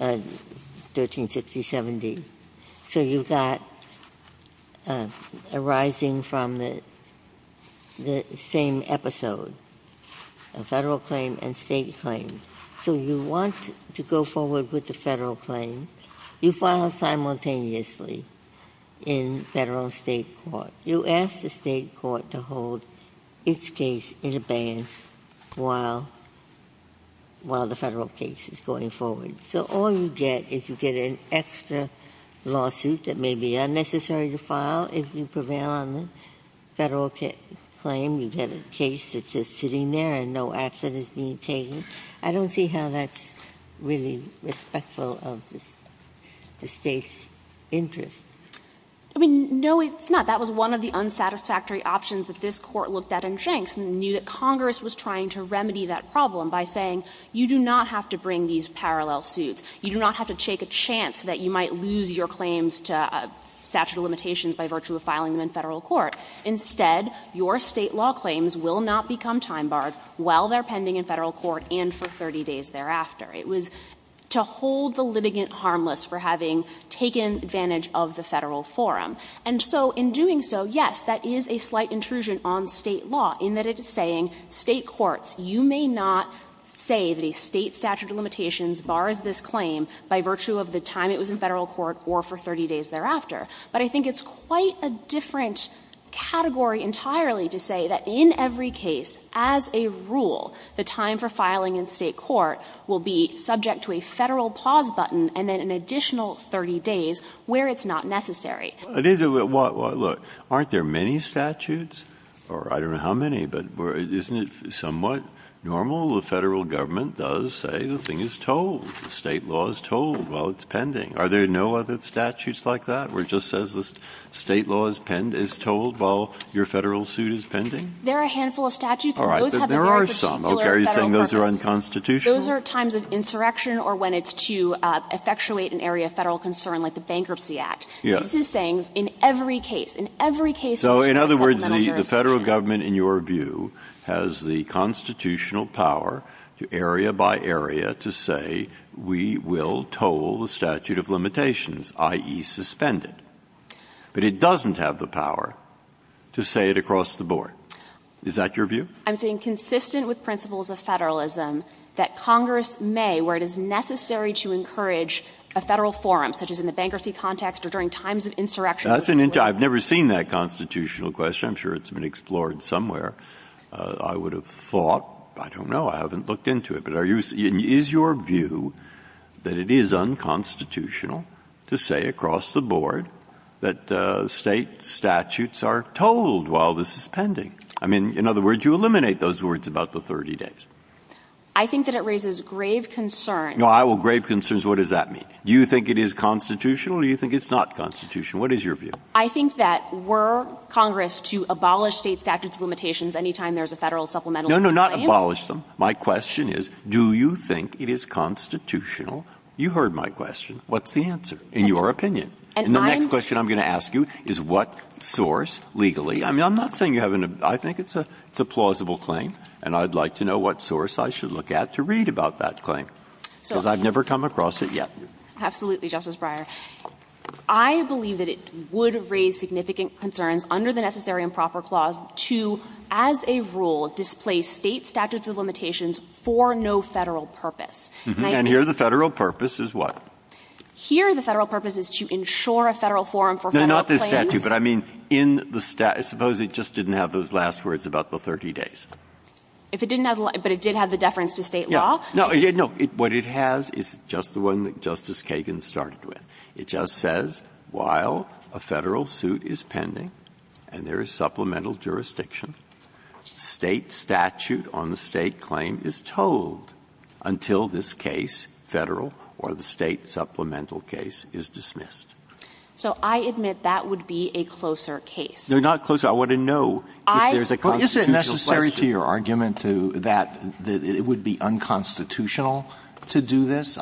1360-70. So you've got arising from the same episode, a Federal claim and State claim. So you want to go forward with the Federal claim. You file simultaneously in Federal and State court. You ask the State court to hold its case in abeyance while the Federal case is going forward. So all you get is you get an extra lawsuit that may be unnecessary to file if you prevail on the Federal claim. You get a case that's just sitting there and no action is being taken. I don't see how that's really respectful of the State's interest. I mean, no, it's not. That was one of the unsatisfactory options that this Court looked at in Jenks and knew that Congress was trying to remedy that problem by saying, you do not have to bring these parallel suits. You do not have to take a chance that you might lose your claims to statute of limitations by virtue of filing them in Federal court. Instead, your State law claims will not become time barred while they are pending in Federal court and for 30 days thereafter. It was to hold the litigant harmless for having taken advantage of the Federal forum. And so in doing so, yes, that is a slight intrusion on State law in that it is saying State courts, you may not say that a State statute of limitations bars this claim by virtue of the time it was in Federal court or for 30 days thereafter. But I think it's quite a different category entirely to say that in every case, as a rule, the time for filing in State court will be subject to a Federal pause button and then an additional 30 days where it's not necessary. Breyer. It is. Look, aren't there many statutes or I don't know how many, but isn't it somewhat normal the Federal government does say the thing is told, the State law is told while it's pending? Are there no other statutes like that where it just says the State law is told while your Federal suit is pending? There are a handful of statutes and those have a very particular Federal purpose. There are some. Are you saying those are unconstitutional? Those are times of insurrection or when it's to effectuate an area of Federal concern like the Bankruptcy Act. Yes. This is saying in every case, in every case in which there is a supplemental jurisdiction. So, in other words, the Federal government, in your view, has the constitutional power to, area by area, to say we will toll the statute of limitations, i.e. suspended. But it doesn't have the power to say it across the board. Is that your view? I'm saying, consistent with principles of Federalism, that Congress may, where it is of insurrection. I've never seen that constitutional question. I'm sure it's been explored somewhere. I would have thought, I don't know, I haven't looked into it. But is your view that it is unconstitutional to say across the board that State statutes are told while this is pending? I mean, in other words, you eliminate those words about the 30 days. I think that it raises grave concerns. Well, grave concerns, what does that mean? Do you think it is constitutional? Or do you think it's not constitutional? What is your view? I think that were Congress to abolish State statutes of limitations any time there is a Federal supplemental claim. No, no, not abolish them. My question is, do you think it is constitutional? You heard my question. What's the answer, in your opinion? And the next question I'm going to ask you is what source, legally? I mean, I'm not saying you haven't been, I think it's a plausible claim. And I'd like to know what source I should look at to read about that claim. Because I've never come across it yet. Absolutely, Justice Breyer. I believe that it would raise significant concerns under the Necessary and Proper Clause to, as a rule, displace State statutes of limitations for no Federal purpose. And I think that's what the Federal purpose is. Here, the Federal purpose is to ensure a Federal forum for Federal claims. No, not this statute, but I mean, in the statute, suppose it just didn't have those last words about the 30 days. If it didn't have the last words, but it did have the deference to State law. No, no. What it has is just the one that Justice Kagan started with. It just says, while a Federal suit is pending and there is supplemental jurisdiction, State statute on the State claim is told until this case, Federal or the State supplemental case, is dismissed. So I admit that would be a closer case. No, not closer. I want to know if there's a constitutional question. But isn't it necessary to your argument to that it would be unconstitutional to do this?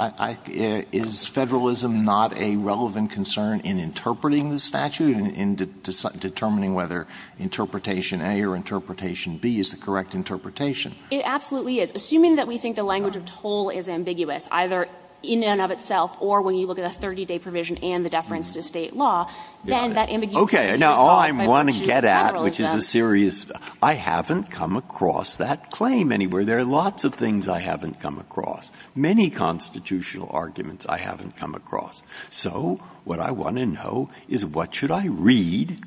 Is Federalism not a relevant concern in interpreting the statute, in determining whether interpretation A or interpretation B is the correct interpretation? It absolutely is. Assuming that we think the language of toll is ambiguous, either in and of itself or when you look at a 30-day provision and the deference to State law, then that ambiguity is solved by virtue of Federalism. Okay. Now, all I want to get at, which is a serious question, I haven't come across that claim anywhere. There are lots of things I haven't come across. Many constitutional arguments I haven't come across. So what I want to know is what should I read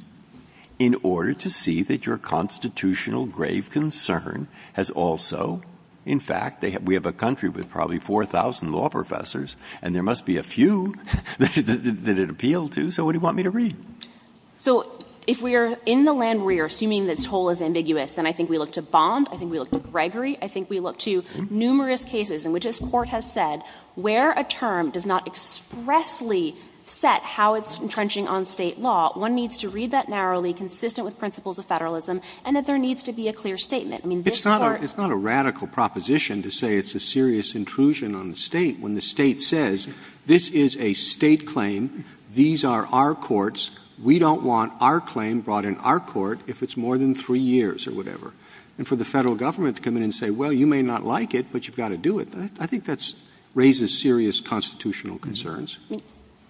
in order to see that your constitutional grave concern has also, in fact, we have a country with probably 4,000 law professors, and there must be a few that it appealed to. So what do you want me to read? So if we are in the land where we are assuming that toll is ambiguous, then I think we look to Bond. I think we look to Gregory. I think we look to numerous cases in which this Court has said where a term does not expressly set how it's entrenching on State law, one needs to read that narrowly, consistent with principles of Federalism, and that there needs to be a clear statement. I mean, this Court doesn't need to read that narrowly. Roberts. It's not a radical proposition to say it's a serious intrusion on the State when the State says this is a State claim, these are our courts, we don't want our claim brought in our court if it's more than three years or whatever. And for the Federal Government to come in and say, well, you may not like it, but you've got to do it, I think that's raises serious constitutional concerns.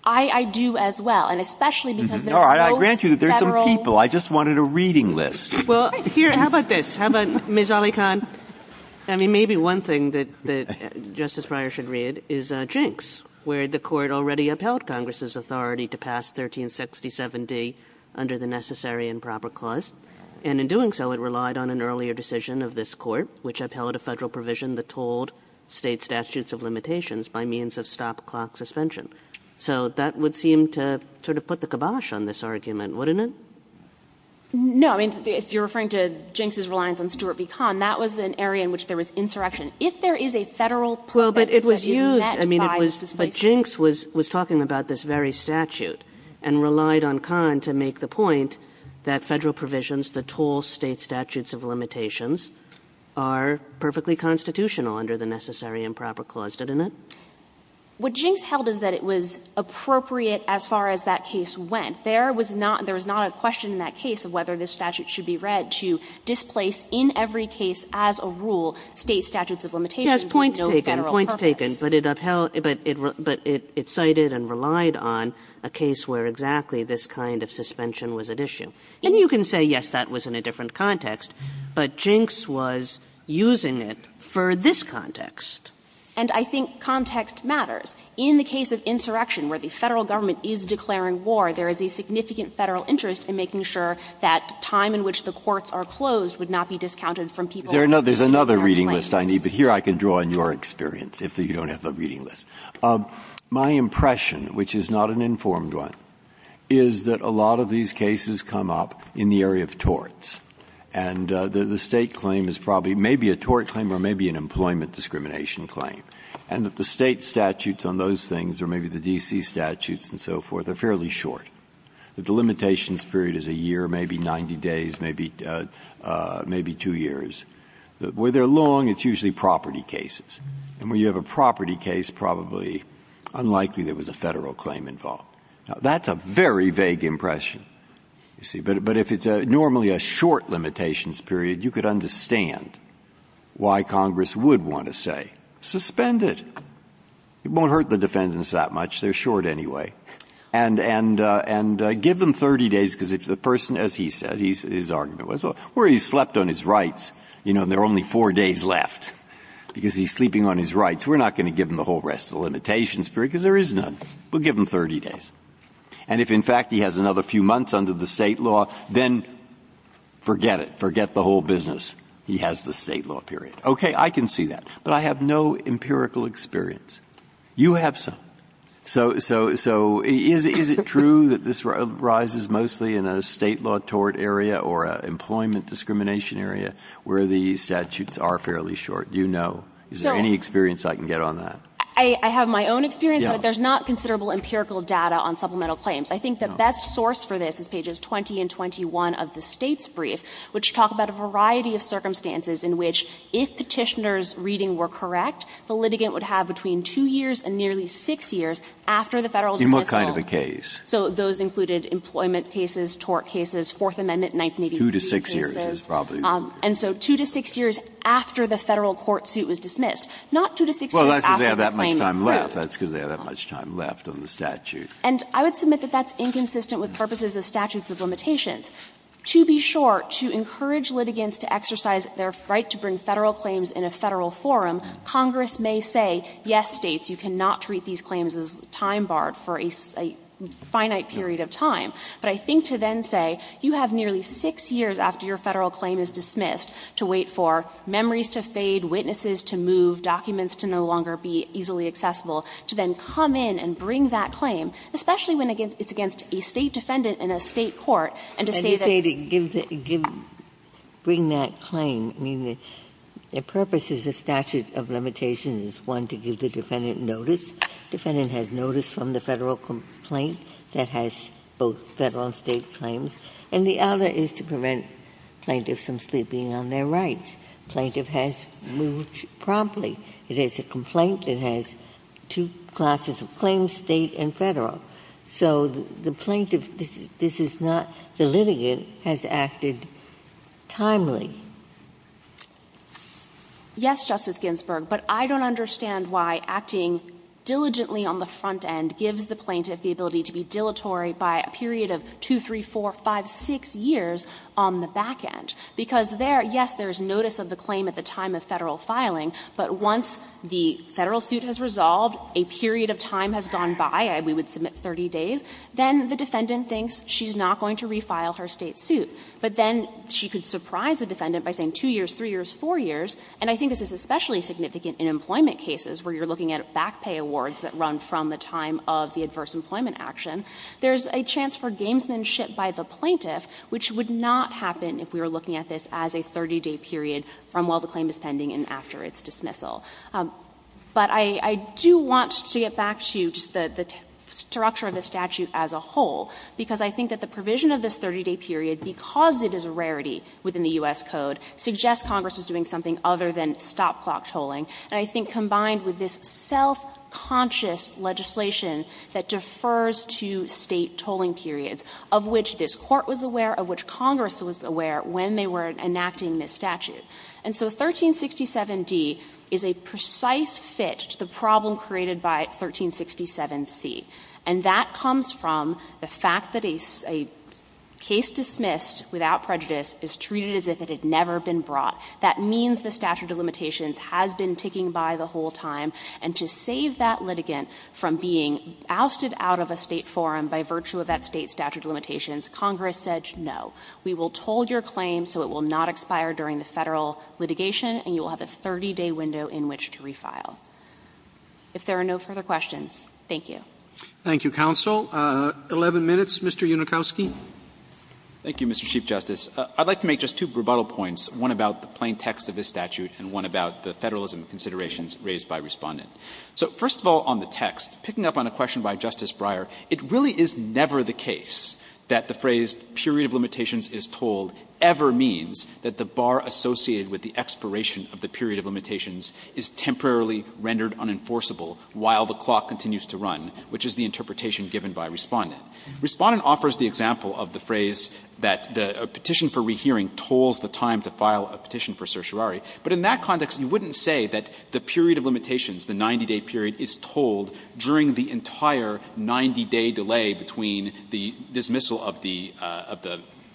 I do as well, and especially because there's no Federal law. No, I grant you that there's some people. I just wanted a reading list. Well, here, how about this? How about Ms. Alicant? I mean, maybe one thing that Justice Breyer should read is Jinks, where the Court already upheld Congress's authority to pass 1367d under the Necessary and Proper Clause, and in doing so, it relied on an earlier decision of this Court, which upheld a Federal provision that told State statutes of limitations by means of stop-clock suspension. So that would seem to sort of put the kibosh on this argument, wouldn't it? No, I mean, if you're referring to Jinks' reliance on Stuart v. Kahn, that was an area in which there was insurrection. If there is a Federal purpose that is met by this displacement. But if Jinks was talking about this very statute and relied on Kahn to make the point that Federal provisions that told State statutes of limitations are perfectly constitutional under the Necessary and Proper Clause, didn't it? What Jinks held is that it was appropriate as far as that case went. There was not a question in that case of whether this statute should be read to displace in every case as a rule State statutes of limitations with no Federal purpose. Kagan, but it upheld, but it cited and relied on a case where exactly this kind of suspension was at issue. And you can say, yes, that was in a different context, but Jinks was using it for this context. And I think context matters. In the case of insurrection, where the Federal Government is declaring war, there is a significant Federal interest in making sure that time in which the courts are closed would not be discounted from people who are in their place. Breyer, I don't have the reading list I need, but here I can draw on your experience if you don't have the reading list. My impression, which is not an informed one, is that a lot of these cases come up in the area of torts, and the State claim is probably maybe a tort claim or maybe an employment discrimination claim, and that the State statutes on those things or maybe the D.C. statutes and so forth are fairly short. The delimitation period is a year, maybe 90 days, maybe two years. Where they are long, it's usually property cases. And where you have a property case, probably unlikely there was a Federal claim involved. Now, that's a very vague impression, you see. But if it's normally a short limitations period, you could understand why Congress would want to say, suspend it. It won't hurt the defendants that much. They are short anyway. And give them 30 days, because if the person, as he said, his argument was, where he slept on his rights, you know, there are only four days left, because he's sleeping on his rights, we're not going to give him the whole rest of the limitations period, because there is none. We'll give him 30 days. And if, in fact, he has another few months under the State law, then forget it. Forget the whole business. He has the State law period. Okay. I can see that. But I have no empirical experience. You have some. So is it true that this arises mostly in a State law tort area or an employment discrimination area where the statutes are fairly short? Do you know? Is there any experience I can get on that? I have my own experience, but there's not considerable empirical data on supplemental claims. I think the best source for this is pages 20 and 21 of the State's brief, which talk about a variety of circumstances in which, if Petitioner's reading were correct, the litigant would have between 2 years and nearly 6 years after the Federal decision was solved. In what kind of a case? So those included employment cases, tort cases, Fourth Amendment 1983 cases. Breyer, 2 to 6 years is probably. And so 2 to 6 years after the Federal court suit was dismissed, not 2 to 6 years after the claim was proved. That's because they have that much time left on the statute. And I would submit that that's inconsistent with purposes of statutes of limitations. To be short, to encourage litigants to exercise their right to bring Federal claims in a Federal forum, Congress may say, yes, States, you cannot treat these claims as time barred for a finite period of time. But I think to then say, you have nearly 6 years after your Federal claim is dismissed to wait for memories to fade, witnesses to move, documents to no longer be easily accessible, to then come in and bring that claim, especially when it's against a State defendant in a State court, and to say that's the case. Ginsburg. And to say to give the – bring that claim, I mean, the purposes of statute of limitation is, one, to give the defendant notice. Defendant has notice from the Federal complaint that has both Federal and State claims. And the other is to prevent plaintiffs from sleeping on their rights. Plaintiff has moved promptly. It is a complaint that has two classes of claims, State and Federal. So the plaintiff, this is not – the litigant has acted timely. Yes, Justice Ginsburg, but I don't understand why acting diligently on the front end gives the plaintiff the ability to be dilatory by a period of 2, 3, 4, 5, 6 years on the back end. Because there, yes, there is notice of the claim at the time of Federal filing, but once the Federal suit has resolved, a period of time has gone by, we would submit 30 days, then the defendant thinks she's not going to refile her State suit. But then she could surprise the defendant by saying 2 years, 3 years, 4 years. And I think this is especially significant in employment cases where you're looking at back pay awards that run from the time of the adverse employment action. There's a chance for gamesmanship by the plaintiff, which would not happen if we were looking at this as a 30-day period from while the claim is pending and after its dismissal. But I do want to get back to just the structure of the statute as a whole, because I think that the provision of this 30-day period, because it is a rarity within the U.S. Code, suggests Congress was doing something other than stop-clock tolling, and I think combined with this self-conscious legislation that defers to State tolling periods, of which this Court was aware, of which Congress was aware when they were enacting this statute. And so 1367d is a precise fit to the problem created by 1367c, and that comes from the fact that a case dismissed without prejudice is treated as if it had never been brought. That means the statute of limitations has been ticking by the whole time, and to save that litigant from being ousted out of a State forum by virtue of that State statute of limitations, Congress said, no, we will toll your claim so it will not expire during the Federal litigation, and you will have a 30-day window in which to refile. If there are no further questions, thank you. Roberts Thank you, counsel. Eleven minutes, Mr. Unikowski. Unikowski Thank you, Mr. Chief Justice. I would like to make just two rebuttal points, one about the plain text of this statute and one about the Federalism considerations raised by Respondent. So first of all on the text, picking up on a question by Justice Breyer, it really is never the case that the phrase period of limitations is tolled ever means that the bar associated with the expiration of the period of limitations is temporarily rendered unenforceable while the clock continues to run, which is the interpretation given by Respondent. Respondent offers the example of the phrase that the petition for rehearing tolls the time to file a petition for certiorari, but in that context, you wouldn't say that the period of limitations, the 90-day period, is tolled during the entire 90-day delay between the dismissal of the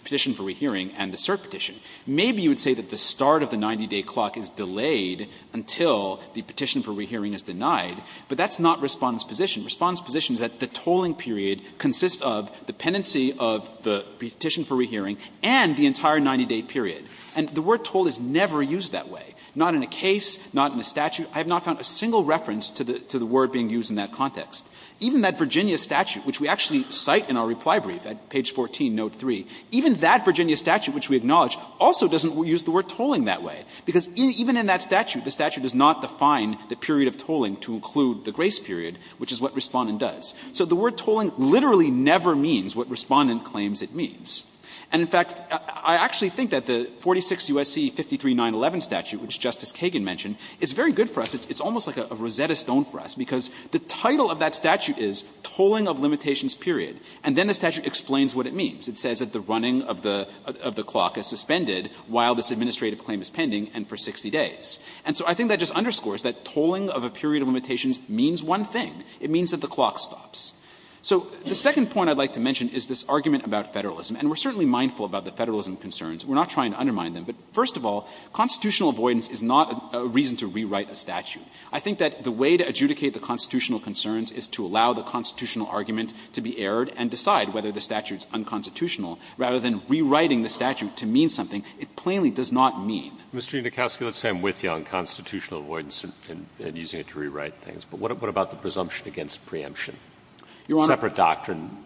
petition for rehearing and the cert petition. Maybe you would say that the start of the 90-day clock is delayed until the petition for rehearing is denied, but that's not Respondent's position. Respondent's position is that the tolling period consists of the pendency of the petition for rehearing and the entire 90-day period. And the word toll is never used that way, not in a case, not in a statute. I have not found a single reference to the word being used in that context. Even that Virginia statute, which we actually cite in our reply brief at page 14, note 3, even that Virginia statute, which we acknowledge, also doesn't use the word to define the period of tolling to include the grace period, which is what Respondent does. So the word tolling literally never means what Respondent claims it means. And, in fact, I actually think that the 46 U.S.C. 53-911 statute, which Justice Kagan mentioned, is very good for us. It's almost like a Rosetta Stone for us, because the title of that statute is tolling of limitations period, and then the statute explains what it means. It says that the running of the clock is suspended while this administrative claim is pending and for 60 days. And so I think that just underscores that tolling of a period of limitations means one thing. It means that the clock stops. So the second point I'd like to mention is this argument about Federalism. And we're certainly mindful about the Federalism concerns. We're not trying to undermine them. But, first of all, constitutional avoidance is not a reason to rewrite a statute. I think that the way to adjudicate the constitutional concerns is to allow the constitutional argument to be errored and decide whether the statute is unconstitutional rather than rewriting the statute to mean something it plainly does not mean. Mr. Nikosky, let's say I'm with you on constitutional avoidance and using it to rewrite things, but what about the presumption against preemption? Separate doctrine,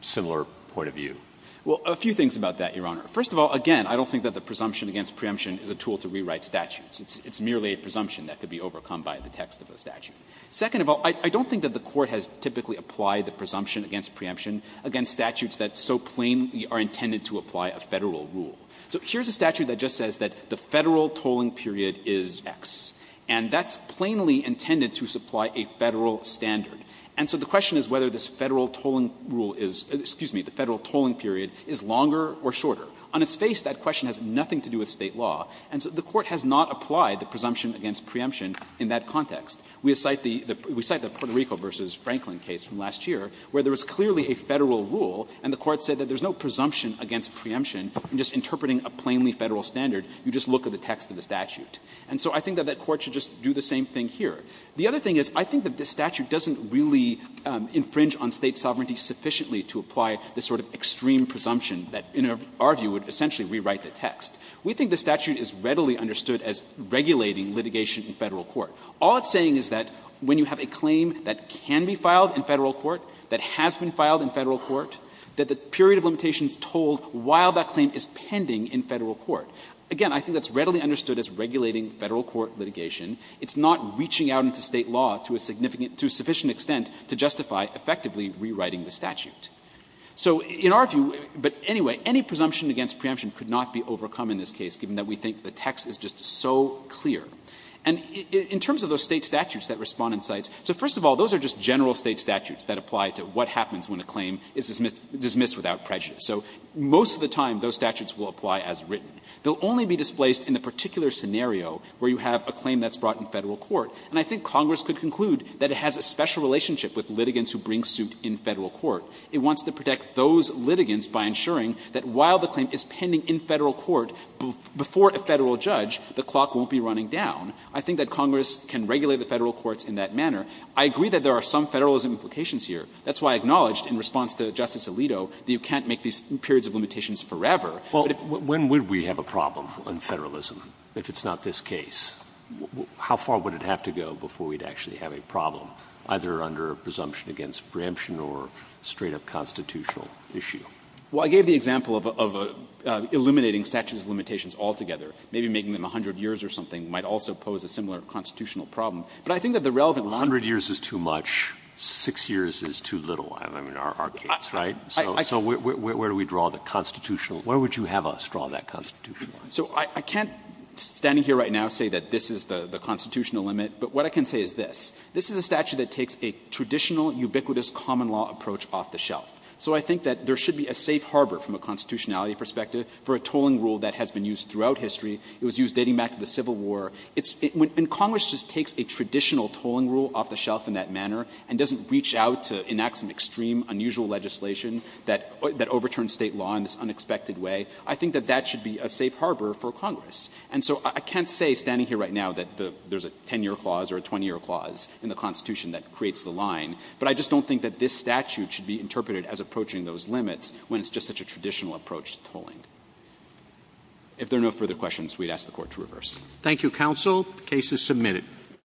similar point of view? Well, a few things about that, Your Honor. First of all, again, I don't think that the presumption against preemption is a tool to rewrite statutes. It's merely a presumption that could be overcome by the text of a statute. Second of all, I don't think that the Court has typically applied the presumption against preemption against statutes that so plainly are intended to apply a Federal rule. So here's a statute that just says that the Federal tolling period is X, and that's plainly intended to supply a Federal standard. And so the question is whether this Federal tolling rule is — excuse me, the Federal tolling period is longer or shorter. On its face, that question has nothing to do with State law, and so the Court has not applied the presumption against preemption in that context. We cite the Puerto Rico v. Franklin case from last year where there was clearly a Federal rule and the Court said that there's no presumption against preemption in just interpreting a plainly Federal standard. You just look at the text of the statute. And so I think that that Court should just do the same thing here. The other thing is I think that this statute doesn't really infringe on State sovereignty sufficiently to apply the sort of extreme presumption that in our view would essentially rewrite the text. We think the statute is readily understood as regulating litigation in Federal court. All it's saying is that when you have a claim that can be filed in Federal court, that has been filed in Federal court, that the period of limitation is told while that claim is pending in Federal court. Again, I think that's readily understood as regulating Federal court litigation. It's not reaching out into State law to a significant to a sufficient extent to justify effectively rewriting the statute. So in our view, but anyway, any presumption against preemption could not be overcome in this case, given that we think the text is just so clear. And in terms of those State statutes that Respondent cites, so first of all, those are just general State statutes that apply to what happens when a claim is dismissed without prejudice. So most of the time, those statutes will apply as written. They will only be displaced in the particular scenario where you have a claim that's brought in Federal court. And I think Congress could conclude that it has a special relationship with litigants who bring suit in Federal court. It wants to protect those litigants by ensuring that while the claim is pending in Federal court before a Federal judge, the clock won't be running down. I think that Congress can regulate the Federal courts in that manner. I agree that there are some Federalism implications here. That's why I acknowledged in response to Justice Alito that you can't make these periods of limitations forever. But if it's not this case, how far would it have to go before we'd actually have a problem, either under presumption against preemption or straight-up constitutional issue? Well, I gave the example of eliminating statute's limitations altogether. Maybe making them 100 years or something might also pose a similar constitutional But I think that the relevant line is that the statute's limitations are not 100 years is too little. I mean, our case, right? So where do we draw the constitutional? Where would you have us draw that constitutional line? So I can't, standing here right now, say that this is the constitutional limit, but what I can say is this. This is a statute that takes a traditional, ubiquitous common law approach off the shelf. So I think that there should be a safe harbor from a constitutionality perspective for a tolling rule that has been used throughout history. It was used dating back to the Civil War. It's when Congress just takes a traditional tolling rule off the shelf in that manner and doesn't reach out to enact some extreme, unusual legislation that overturns State law in this unexpected way. I think that that should be a safe harbor for Congress. And so I can't say, standing here right now, that there's a 10-year clause or a 20-year clause in the Constitution that creates the line, but I just don't think that this statute should be interpreted as approaching those limits when it's just such a traditional approach to tolling. If there are no further questions, we'd ask the Court to reverse. Roberts. Thank you, counsel. The case is submitted.